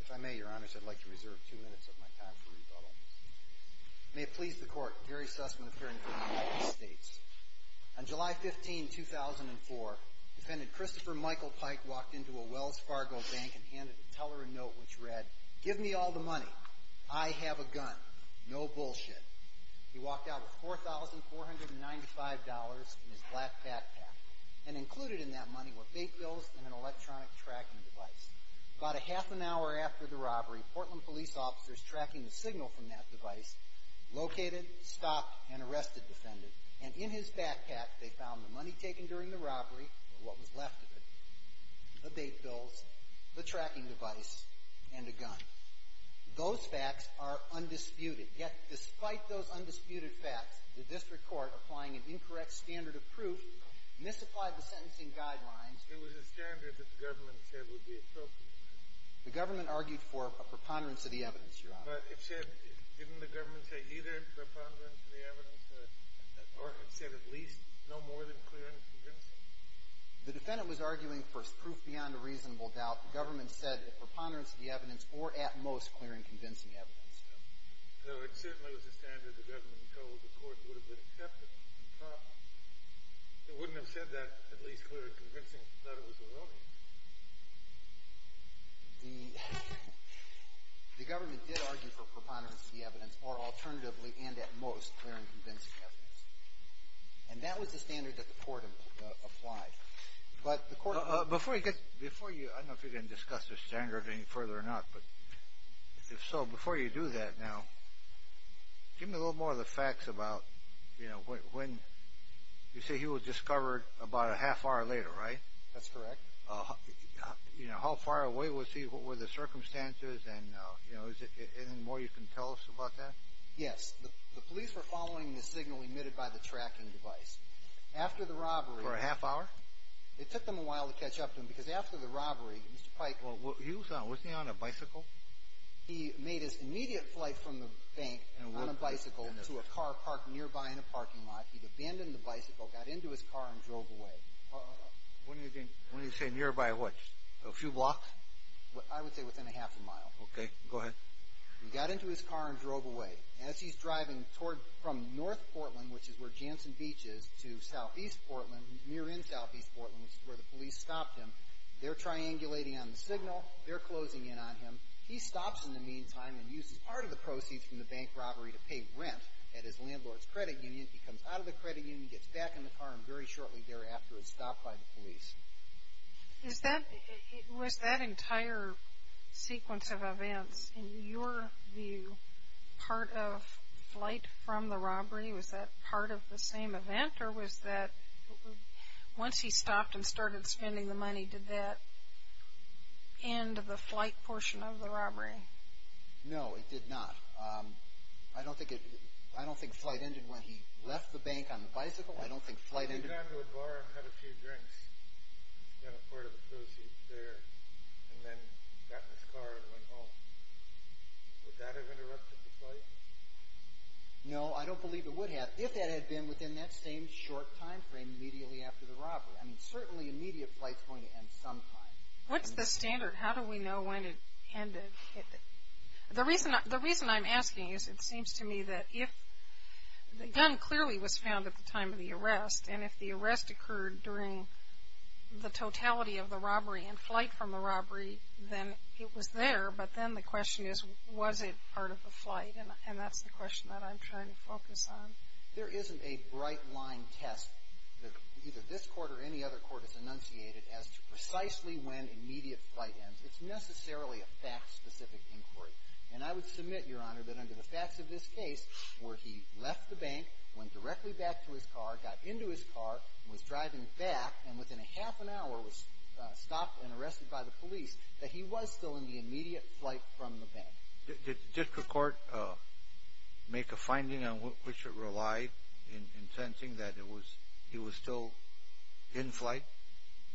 If I may, Your Honor, I'd like to reserve two minutes of my time for rebuttal. May it please the Court, Gary Sussman, appearing before the United States. On July 15, 2004, defendant Christopher Michael Pike walked into a Wells Fargo bank and handed a teller a note which read, Give me all the money. I have a gun. No bullshit. He walked out with $4,495 in his black backpack, and included in that money were bait bills and an electronic tracking device. About a half an hour after the robbery, Portland police officers tracking the signal from that device located, stopped, and arrested the defendant. And in his backpack, they found the money taken during the robbery, what was left of it, the bait bills, the tracking device, and a gun. Those facts are undisputed. Yet, despite those undisputed facts, the district court, applying an incorrect standard of proof, misapplied the sentencing guidelines. It was a standard that the government said would be appropriate. The government argued for a preponderance of the evidence, Your Honor. But it said, didn't the government say either a preponderance of the evidence or it said at least no more than clear and convincing? The defendant was arguing for proof beyond a reasonable doubt. The government said a preponderance of the evidence or at most clear and convincing evidence. Though it certainly was a standard the government told the court would have been accepted. It wouldn't have said that, at least clear and convincing, that it was a robbery. The government did argue for preponderance of the evidence or alternatively and at most clear and convincing evidence. And that was the standard that the court applied. But the court— Before you get—before you—I don't know if you're going to discuss the standard any further or not, but if so, before you do that now, give me a little more of the facts about, you know, when—you say he was discovered about a half hour later, right? That's correct. You know, how far away was he? What were the circumstances? And, you know, is there anything more you can tell us about that? Yes. The police were following the signal emitted by the tracking device. After the robbery— For a half hour? It took them a while to catch up to him because after the robbery, Mr. Pike— He was on—was he on a bicycle? He made his immediate flight from the bank on a bicycle to a car parked nearby in a parking lot. He'd abandoned the bicycle, got into his car, and drove away. When do you think—when do you say nearby what? A few blocks? I would say within a half a mile. Okay. Go ahead. He got into his car and drove away. As he's driving toward—from North Portland, which is where Jansen Beach is, to Southeast Portland, near in Southeast Portland, which is where the police stopped him, they're triangulating on the signal, they're closing in on him. He stops in the meantime and uses part of the proceeds from the bank robbery to pay rent at his landlord's credit union. He comes out of the credit union, gets back in the car, and very shortly thereafter is stopped by the police. Is that—was that entire sequence of events, in your view, part of flight from the robbery? Was that part of the same event, or was that—once he stopped and started spending the money, did that end the flight portion of the robbery? No, it did not. I don't think it—I don't think flight ended when he left the bank on the bicycle. I don't think flight ended— He went down to a bar and had a few drinks and spent a part of the proceeds there, and then got in his car and went home. Would that have interrupted the flight? No, I don't believe it would have, if that had been within that same short timeframe immediately after the robbery. I mean, certainly immediate flight's going to end sometime. What's the standard? How do we know when it ended? The reason I'm asking is it seems to me that if—the gun clearly was found at the time of the arrest, and if the arrest occurred during the totality of the robbery and flight from the robbery, then it was there, but then the question is, was it part of the flight? And that's the question that I'm trying to focus on. There isn't a bright-line test that either this Court or any other Court has enunciated as to precisely when immediate flight ends. It's necessarily a fact-specific inquiry. And I would submit, Your Honor, that under the facts of this case, where he left the bank, went directly back to his car, got into his car, was driving back, and within a half an hour was stopped and arrested by the police, that he was still in the immediate flight from the bank. Did the district court make a finding on which it relied in sensing that he was still in flight?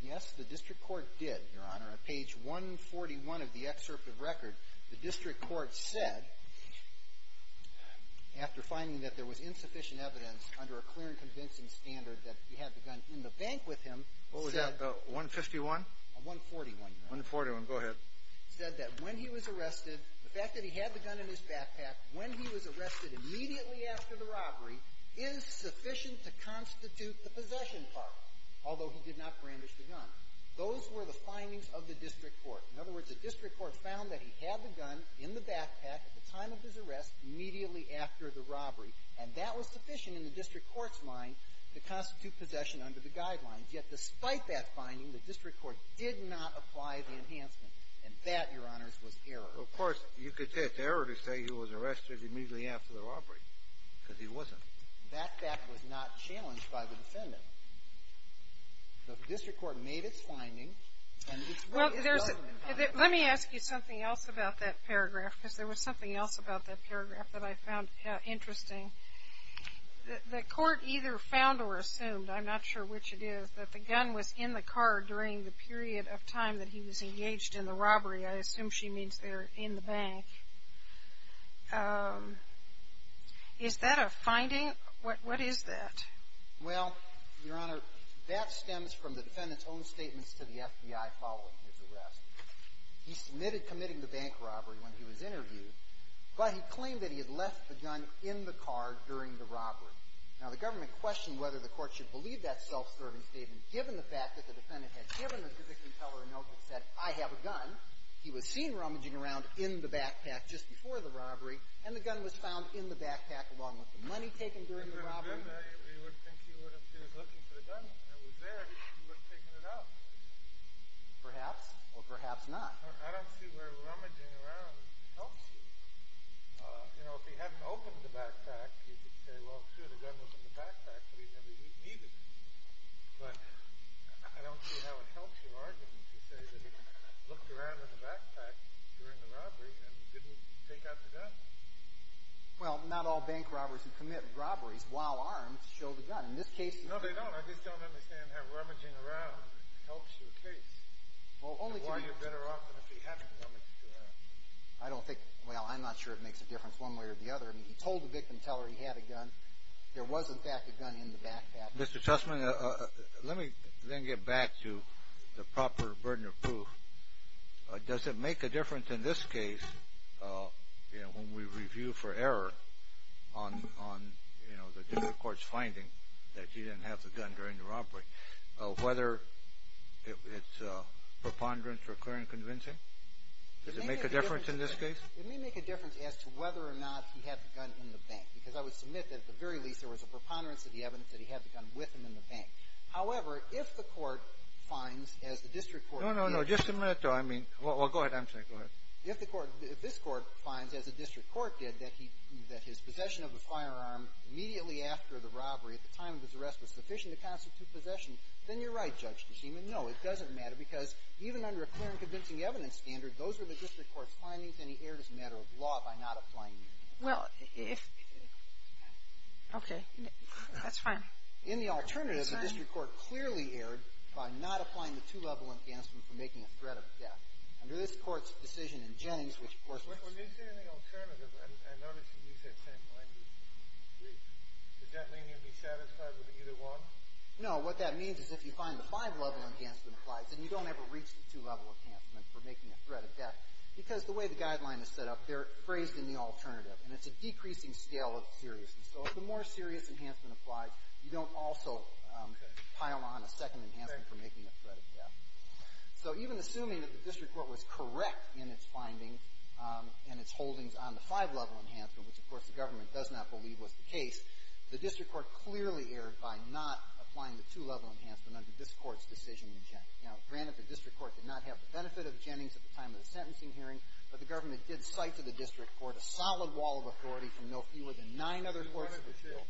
Yes, the district court did, Your Honor. On page 141 of the excerpt of record, the district court said, after finding that there was insufficient evidence under a clear and convincing standard that he had the gun in the bank with him, said — What was that, 151? 141, Your Honor. 141. Go ahead. It said that when he was arrested, the fact that he had the gun in his backpack when he was arrested immediately after the robbery is sufficient to constitute the possession part, although he did not brandish the gun. Those were the findings of the district court. In other words, the district court found that he had the gun in the backpack at the time of his arrest immediately after the robbery, and that was sufficient in the district court's mind to constitute possession under the guidelines. Yet despite that finding, the district court did not apply the enhancement, and that, Your Honors, was error. Of course, you could say it's error to say he was arrested immediately after the robbery because he wasn't. The backpack was not challenged by the defendant. So the district court made its finding, and it's where its judgment lies. Well, there's — let me ask you something else about that paragraph, because there was something else about that paragraph that I found interesting. The court either found or assumed, I'm not sure which it is, that the gun was in the car during the period of time that he was engaged in the robbery. I assume she means there in the bank. Is that a finding? What is that? Well, Your Honor, that stems from the defendant's own statements to the FBI following his arrest. He submitted committing the bank robbery when he was interviewed, but he claimed that he had left the gun in the car during the robbery. Now, the government questioned whether the court should believe that self-serving statement, given the fact that the defendant had given the conviction teller a note that said, I have a gun. He was seen rummaging around in the backpack just before the robbery, and the gun was found in the backpack along with the money taken during the robbery. We would think he was looking for the gun. It was there. He wouldn't have taken it out. Perhaps, or perhaps not. I don't see where rummaging around helps you. You know, if he hadn't opened the backpack, you could say, well, sure, the gun was in the backpack, but he never needed it. But I don't see how it helps your argument to say that he looked around in the backpack during the robbery and didn't take out the gun. Well, not all bank robberies who commit robberies while armed show the gun. In this case, no. No, they don't. I just don't understand how rummaging around helps your case. Why you're better off than if he hadn't rummaged around. I don't think, well, I'm not sure it makes a difference one way or the other. I mean, he told the victim teller he had a gun. There was, in fact, a gun in the backpack. Mr. Chessman, let me then get back to the proper burden of proof. Does it make a difference in this case, you know, when we review for error on, you know, the district court's finding that he didn't have the gun during the robbery, whether it's preponderance, recurring convincing? Does it make a difference in this case? It may make a difference as to whether or not he had the gun in the bank, because I would submit that, at the very least, there was a preponderance of the evidence that he had the gun with him in the bank. However, if the court finds, as the district court did— No, no, no. Just a minute, though. I mean—well, go ahead. I'm sorry. Go ahead. If the court — if this court finds, as the district court did, that he — that his possession of the firearm immediately after the robbery, at the time of his arrest, was sufficient to constitute possession, then you're right, Judge Kosima. No, it doesn't matter, because even under a clear and convincing evidence standard, those are the district court's findings, and he erred as a matter of law by not applying them. Well, if — okay. That's fine. In the alternative, the district court clearly erred by not applying the two-level enhancement for making a threat of death. Under this court's decision in Jennings, which, of course— When you say in the alternative, I notice you use that same language. Wait. Does that mean you'd be satisfied with either one? No. What that means is if you find the five-level enhancement applies, then you don't ever reach the two-level enhancement for making a threat of death, because the way the guideline is set up, they're phrased in the alternative, and it's a decreasing scale of seriousness. So the more serious enhancement applies, you don't also pile on a second enhancement for making a threat of death. So even assuming that the district court was correct in its findings and its holdings on the five-level enhancement, which, of course, the government does not believe was the case, the district court clearly erred by not applying the two-level enhancement under this court's decision in Jennings. Now, granted, the district court did not have the benefit of Jennings at the time of the sentencing hearing, but the government did cite to the district court a solid wall of authority from no fewer than nine other courts of appeal.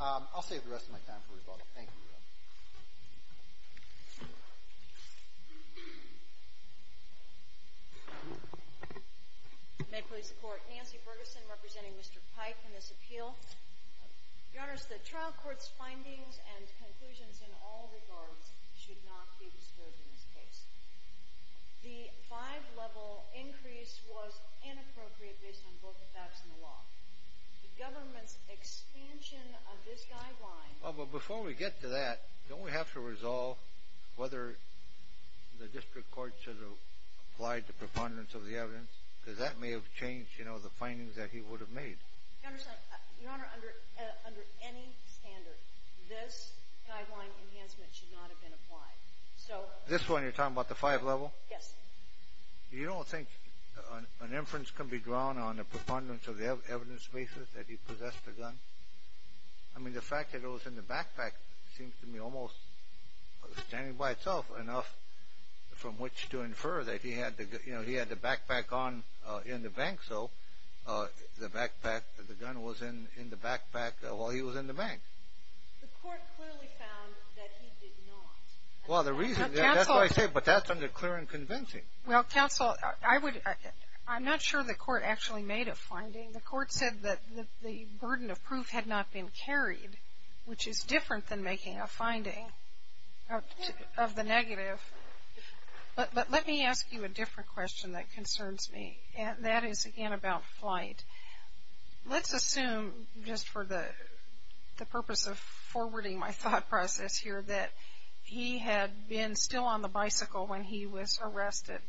I'll save the rest of my time for rebuttal. Thank you, Your Honor. May it please the Court. Nancy Ferguson representing Mr. Pike in this appeal. Your Honors, the trial court's findings and conclusions in all regards should not be disturbed in this case. The five-level increase was inappropriate based on both the facts and the law. The government's expansion of this guideline... Well, but before we get to that, don't we have to resolve whether the district court should have applied the preponderance of the evidence? Because that may have changed, you know, the findings that he would have made. Your Honor, under any standard, this guideline enhancement should not have been applied. This one, you're talking about the five-level? Yes. You don't think an inference can be drawn on the preponderance of the evidence basis that he possessed a gun? I mean, the fact that it was in the backpack seems to me almost standing by itself enough from which to infer that he had the backpack on in the bank, so the backpack, the gun was in the backpack while he was in the bank. The court clearly found that he did not. Well, the reason, that's why I say, but that's under clear and convincing. Well, counsel, I would, I'm not sure the court actually made a finding. The court said that the burden of proof had not been carried, which is different than making a finding of the negative. But let me ask you a different question that concerns me, and that is, again, about flight. Let's assume, just for the purpose of forwarding my thought process here, that he had been still on the bicycle when he was arrested,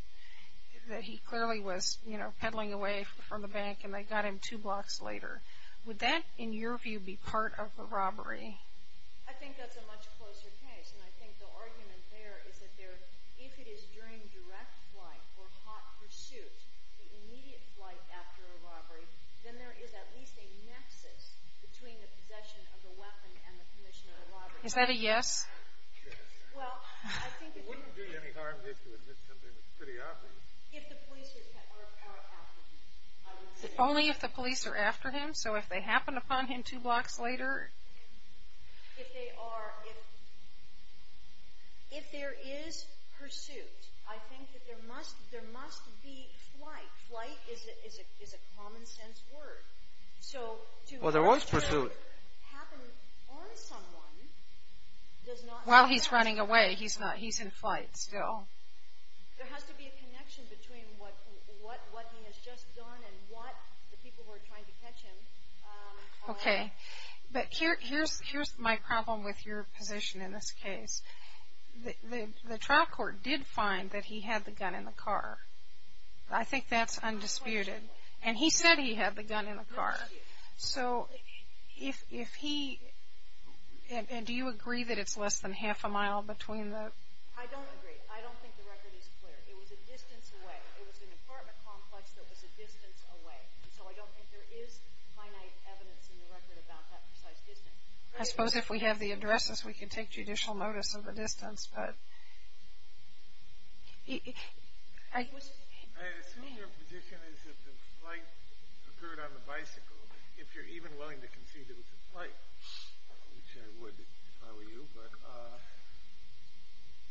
that he clearly was, you know, peddling away from the bank, and they got him two blocks later. Would that, in your view, be part of a robbery? I think that's a much closer case, and I think the argument there is that if it is during direct flight or hot pursuit, the immediate flight after a robbery, then there is at least a nexus between the possession of the weapon and the commission of the robbery. Is that a yes? Yes. Well, I think it wouldn't be any harm if you admit something that's pretty obvious. If the police are after him, I would say. Only if the police are after him, so if they happen upon him two blocks later? If they are, if there is pursuit, I think that there must be flight. Flight is a common sense word. Well, there was pursuit. So to have pursuit happen on someone does not... While he's running away, he's in flight still. There has to be a connection between what he has just done and what the people who are trying to catch him... Okay. But here's my problem with your position in this case. The trial court did find that he had the gun in the car. I think that's undisputed. And he said he had the gun in the car. So if he... And do you agree that it's less than half a mile between the... I don't agree. I don't think the record is clear. It was a distance away. It was an apartment complex that was a distance away. So I don't think there is finite evidence in the record about that precise distance. I suppose if we have the addresses, we can take judicial notice of the distance, but... I assume your position is that the flight occurred on the bicycle. If you're even willing to concede it was a flight, which I would if I were you, but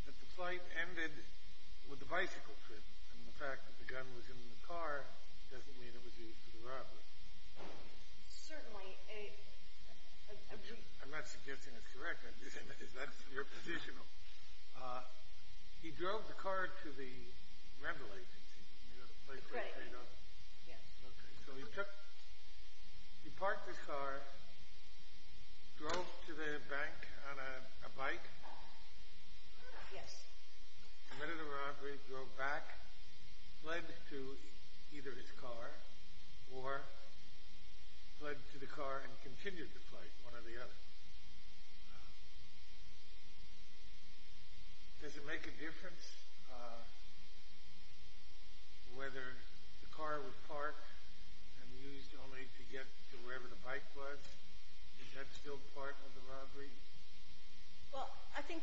that the flight ended with the bicycle trip, and the fact that the gun was in the car doesn't mean it was used for the robbery. Certainly. I'm not suggesting it's correct. I'm just saying that's your position. He drove the car to the rental agency. You know, the place where he does... Right. Yes. Okay. So he parked his car, drove to the bank on a bike... Yes. ...committed a robbery, drove back, fled to either his car, or fled to the car and continued the flight, one or the other. Does it make a difference whether the car was parked and used only to get to wherever the bike was? Is that still part of the robbery? Well, I think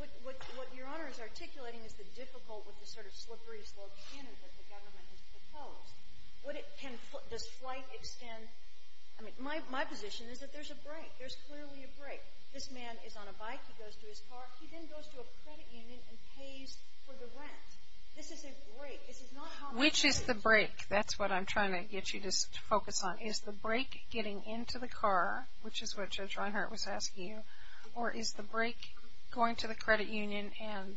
what Your Honor is articulating is the difficulty with the sort of slippery slope canyon that the government has proposed. Does flight extend? I mean, my position is that there's a break. There's clearly a break. This man is on a bike. He goes to his car. He then goes to a credit union and pays for the rent. This is a break. This is not how robbery works. Which is the break? That's what I'm trying to get you to focus on. Is the break getting into the car, which is what Judge Reinhart was asking you, or is the break going to the credit union and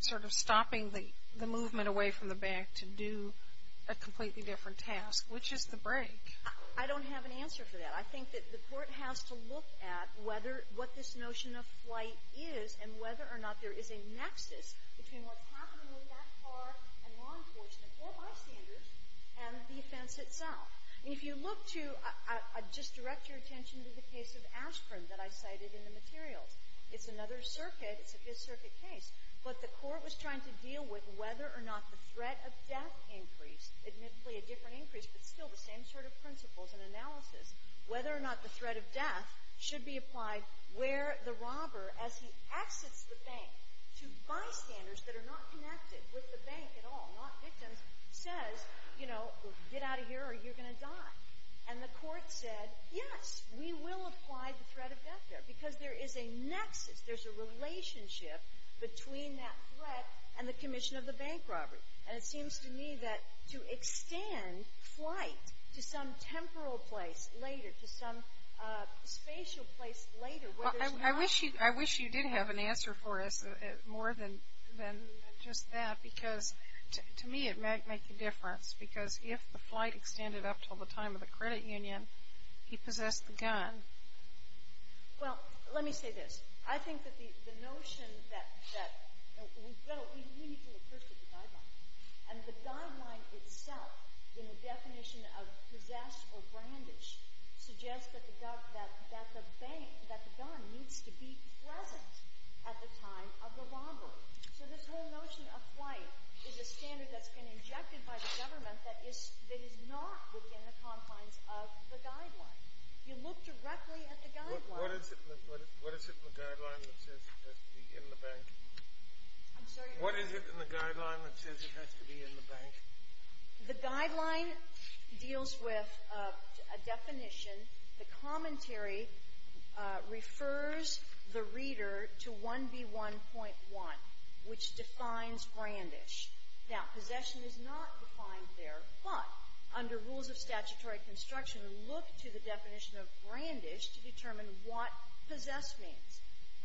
sort of stopping the movement away from the bank to do a completely different task? Which is the break? I don't have an answer for that. I think that the court has to look at what this notion of flight is and whether or not there is a nexus between what's happening with that car and law enforcement or bystanders and the offense itself. If you look to — just direct your attention to the case of Ashburn that I cited in the materials. It's another circuit. It's a dis-circuit case. But the court was trying to deal with whether or not the threat of death increase, admittedly a different increase but still the same sort of principles and analysis, whether or not the threat of death should be applied where the robber, as he exits the bank to bystanders that are not connected with the bank at all, not victims, says, you know, get out of here or you're going to die. And the court said, yes, we will apply the threat of death there because there is a nexus. There's a relationship between that threat and the commission of the bank robbery. And it seems to me that to extend flight to some temporal place later, to some spatial place later, whether it's not — to me it might make a difference because if the flight extended up to the time of the credit union, he possessed the gun. Well, let me say this. I think that the notion that — well, we need to look first at the guideline. And the guideline itself in the definition of possessed or brandished suggests that the gun needs to be present at the time of the robbery. So this whole notion of flight is a standard that's been injected by the government that is not within the confines of the guideline. You look directly at the guideline. What is it in the guideline that says it has to be in the bank? I'm sorry? What is it in the guideline that says it has to be in the bank? The guideline deals with a definition. The commentary refers the reader to 1B1.1, which defines brandish. Now, possession is not defined there, but under rules of statutory construction, look to the definition of brandish to determine what possessed means.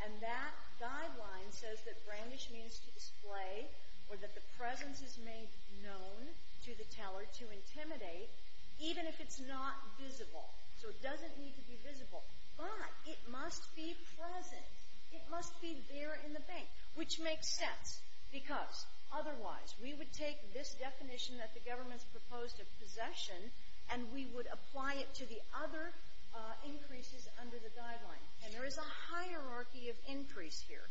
And that guideline says that brandish means to display or that the presence is made known to the teller to intimidate, even if it's not visible. So it doesn't need to be visible. But it must be present. It must be there in the bank, which makes sense because otherwise we would take this definition that the government's proposed of possession and we would apply it to the other increases under the guideline. And there is a hierarchy of increase here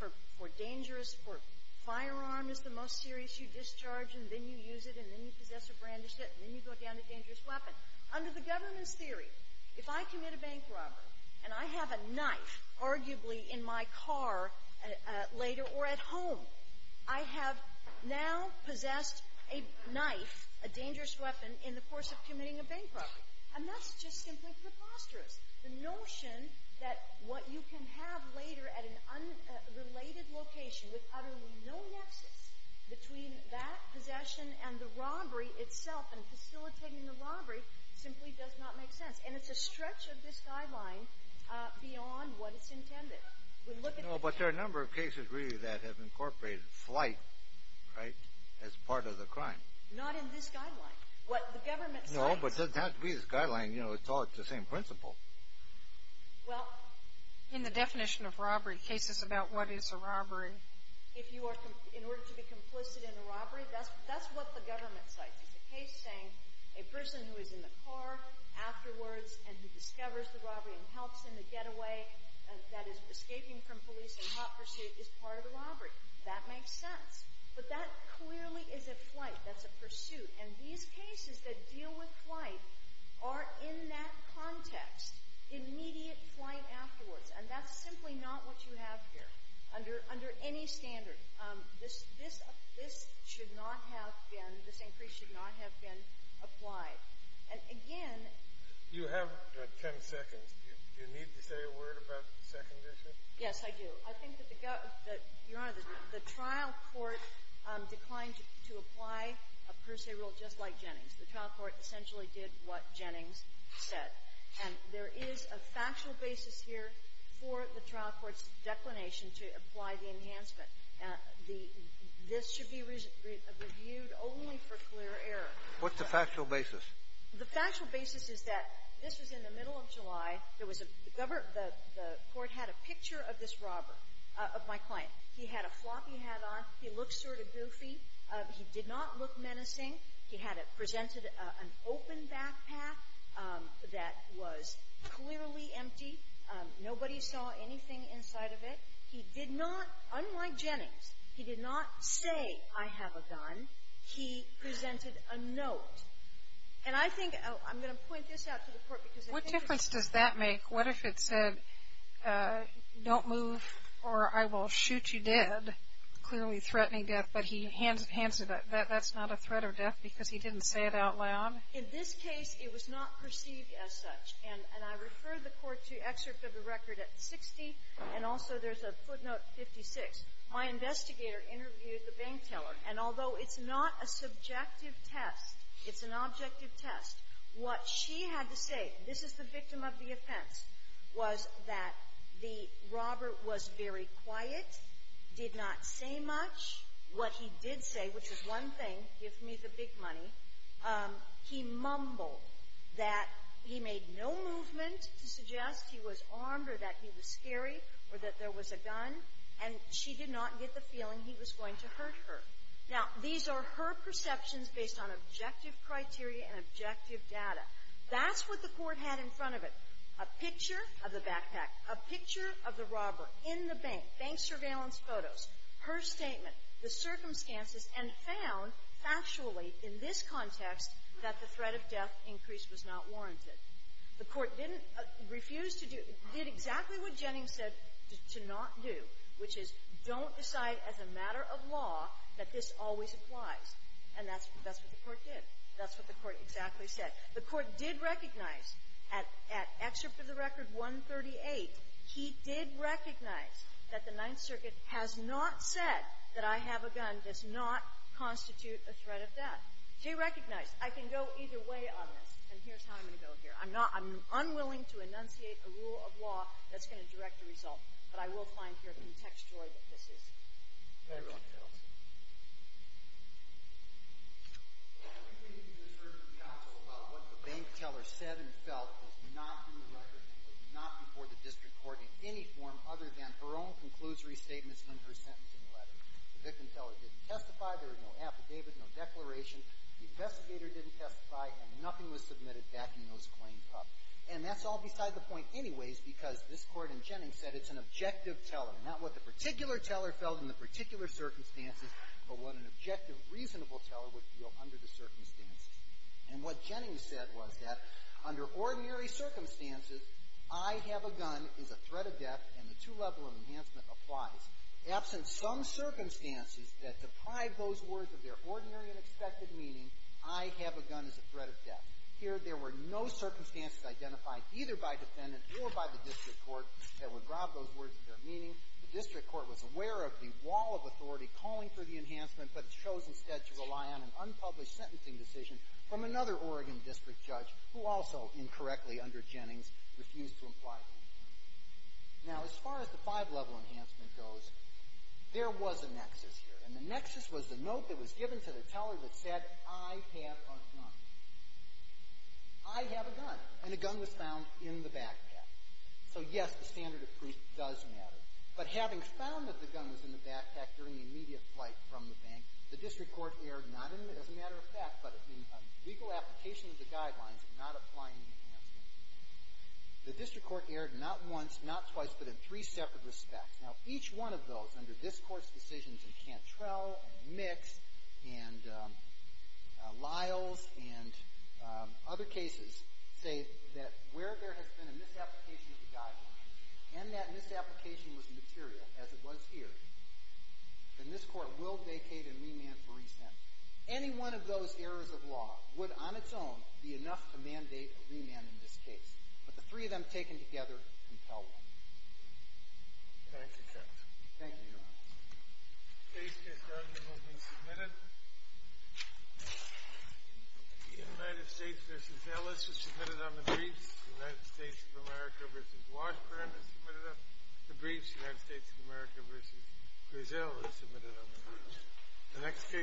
for dangerous, for firearm is the most serious, you discharge and then you use it and then you possess or brandish it and then you go down to dangerous weapon. Under the government's theory, if I commit a bank robbery and I have a knife arguably in my car later or at home, I have now possessed a knife, a dangerous weapon, in the course of committing a bank robbery. And that's just simply preposterous. The notion that what you can have later at an unrelated location with utterly no nexus between that possession and the robbery itself and facilitating the robbery simply does not make sense. And it's a stretch of this guideline beyond what is intended. But there are a number of cases really that have incorporated flight, right, as part of the crime. Not in this guideline. No, but it doesn't have to be this guideline. You know, it's all the same principle. Well, in the definition of robbery, cases about what is a robbery, if you are in order to be complicit in a robbery, that's what the government cites. It's a case saying a person who is in the car afterwards and who discovers the robbery and helps in the getaway that is escaping from police in hot pursuit is part of the robbery. That makes sense. But that clearly is a flight. That's a pursuit. And these cases that deal with flight are in that context. Immediate flight afterwards. And that's simply not what you have here under any standard. This should not have been, this increase should not have been applied. And again. You have 10 seconds. Do you need to say a word about the second issue? Yes, I do. I think that the government, Your Honor, the trial court declined to apply a per se rule just like Jennings. The trial court essentially did what Jennings said. And there is a factual basis here for the trial court's declination to apply the enhancement. This should be reviewed only for clear error. What's the factual basis? The factual basis is that this was in the middle of July. The court had a picture of this robber, of my client. He had a floppy hat on. He looked sort of goofy. He did not look menacing. He had presented an open backpack that was clearly empty. Nobody saw anything inside of it. He did not, unlike Jennings, he did not say, I have a gun. He presented a note. And I think, I'm going to point this out to the court because I think there's What does that make? What if it said, don't move or I will shoot you dead, clearly threatening death. But he hands it, that's not a threat of death because he didn't say it out loud? In this case, it was not perceived as such. And I refer the court to excerpt of the record at 60, and also there's a footnote 56. My investigator interviewed the bank teller, and although it's not a subjective test, it's an objective test. What she had to say, this is the victim of the offense, was that the robber was very quiet, did not say much. What he did say, which is one thing, gives me the big money, he mumbled that he made no movement to suggest he was armed or that he was scary or that there was a gun, and she did not get the feeling he was going to hurt her. Now, these are her perceptions based on objective criteria and objective data. That's what the court had in front of it, a picture of the backpack, a picture of the robber in the bank, bank surveillance photos, her statement, the circumstances, and found factually in this context that the threat of death increase was not warranted. The court didn't refuse to do — did exactly what Jennings said to not do, which is don't decide as a matter of law that this always applies. And that's what the court did. That's what the court exactly said. The court did recognize at excerpt of the record 138, he did recognize that the Ninth Circuit has not said that I have a gun does not constitute a threat of death. He recognized I can go either way on this, and here's how I'm going to go here. I'm not — I'm unwilling to enunciate a rule of law that's going to direct the result, but I will find here contextual that this is. Thank you, counsel. The only thing you can assert from counsel about what the bank teller said and felt was not in the record and was not before the district court in any form other than her own conclusory statements and her sentencing letter. The victim teller didn't testify. There was no affidavit, no declaration. The investigator didn't testify, and nothing was submitted backing those claims up. And that's all beside the point anyways, because this Court in Jennings said it's an objective teller, not what the particular teller felt in the particular circumstances, but what an objective, reasonable teller would feel under the circumstances. And what Jennings said was that under ordinary circumstances, I have a gun is a threat of death, and the two-level enhancement applies. Absent some circumstances that deprive those words of their ordinary and expected meaning, I have a gun is a threat of death. Here, there were no circumstances identified either by defendant or by the district court that would rob those words of their meaning. The district court was aware of the wall of authority calling for the enhancement, but it chose instead to rely on an unpublished sentencing decision from another Oregon district judge who also incorrectly, under Jennings, refused to imply the enhancement. Now, as far as the five-level enhancement goes, there was a nexus here, and the nexus was the note that was given to the teller that said, I have a gun. I have a gun, and a gun was found in the backpack. So, yes, the standard of proof does matter. But having found that the gun was in the backpack during the immediate flight from the bank, the district court erred not as a matter of fact, but in legal application of the guidelines of not applying the enhancement. The district court erred not once, not twice, but in three separate respects. Now, each one of those, under this Court's decisions in Cantrell and Mix and Liles and other cases, say that where there has been a misapplication of the guidelines and that misapplication was material, as it was here, then this Court will vacate and remand for resentment. Any one of those errors of law would, on its own, be enough to mandate a remand in this case. But the three of them taken together compel one. Thank you, Judge. Thank you, Your Honor. The case case documents will be submitted. The United States v. Ellis was submitted on the briefs. The United States of America v. Washburn was submitted on the briefs. The United States of America v. Brazil was submitted on the briefs. The next case.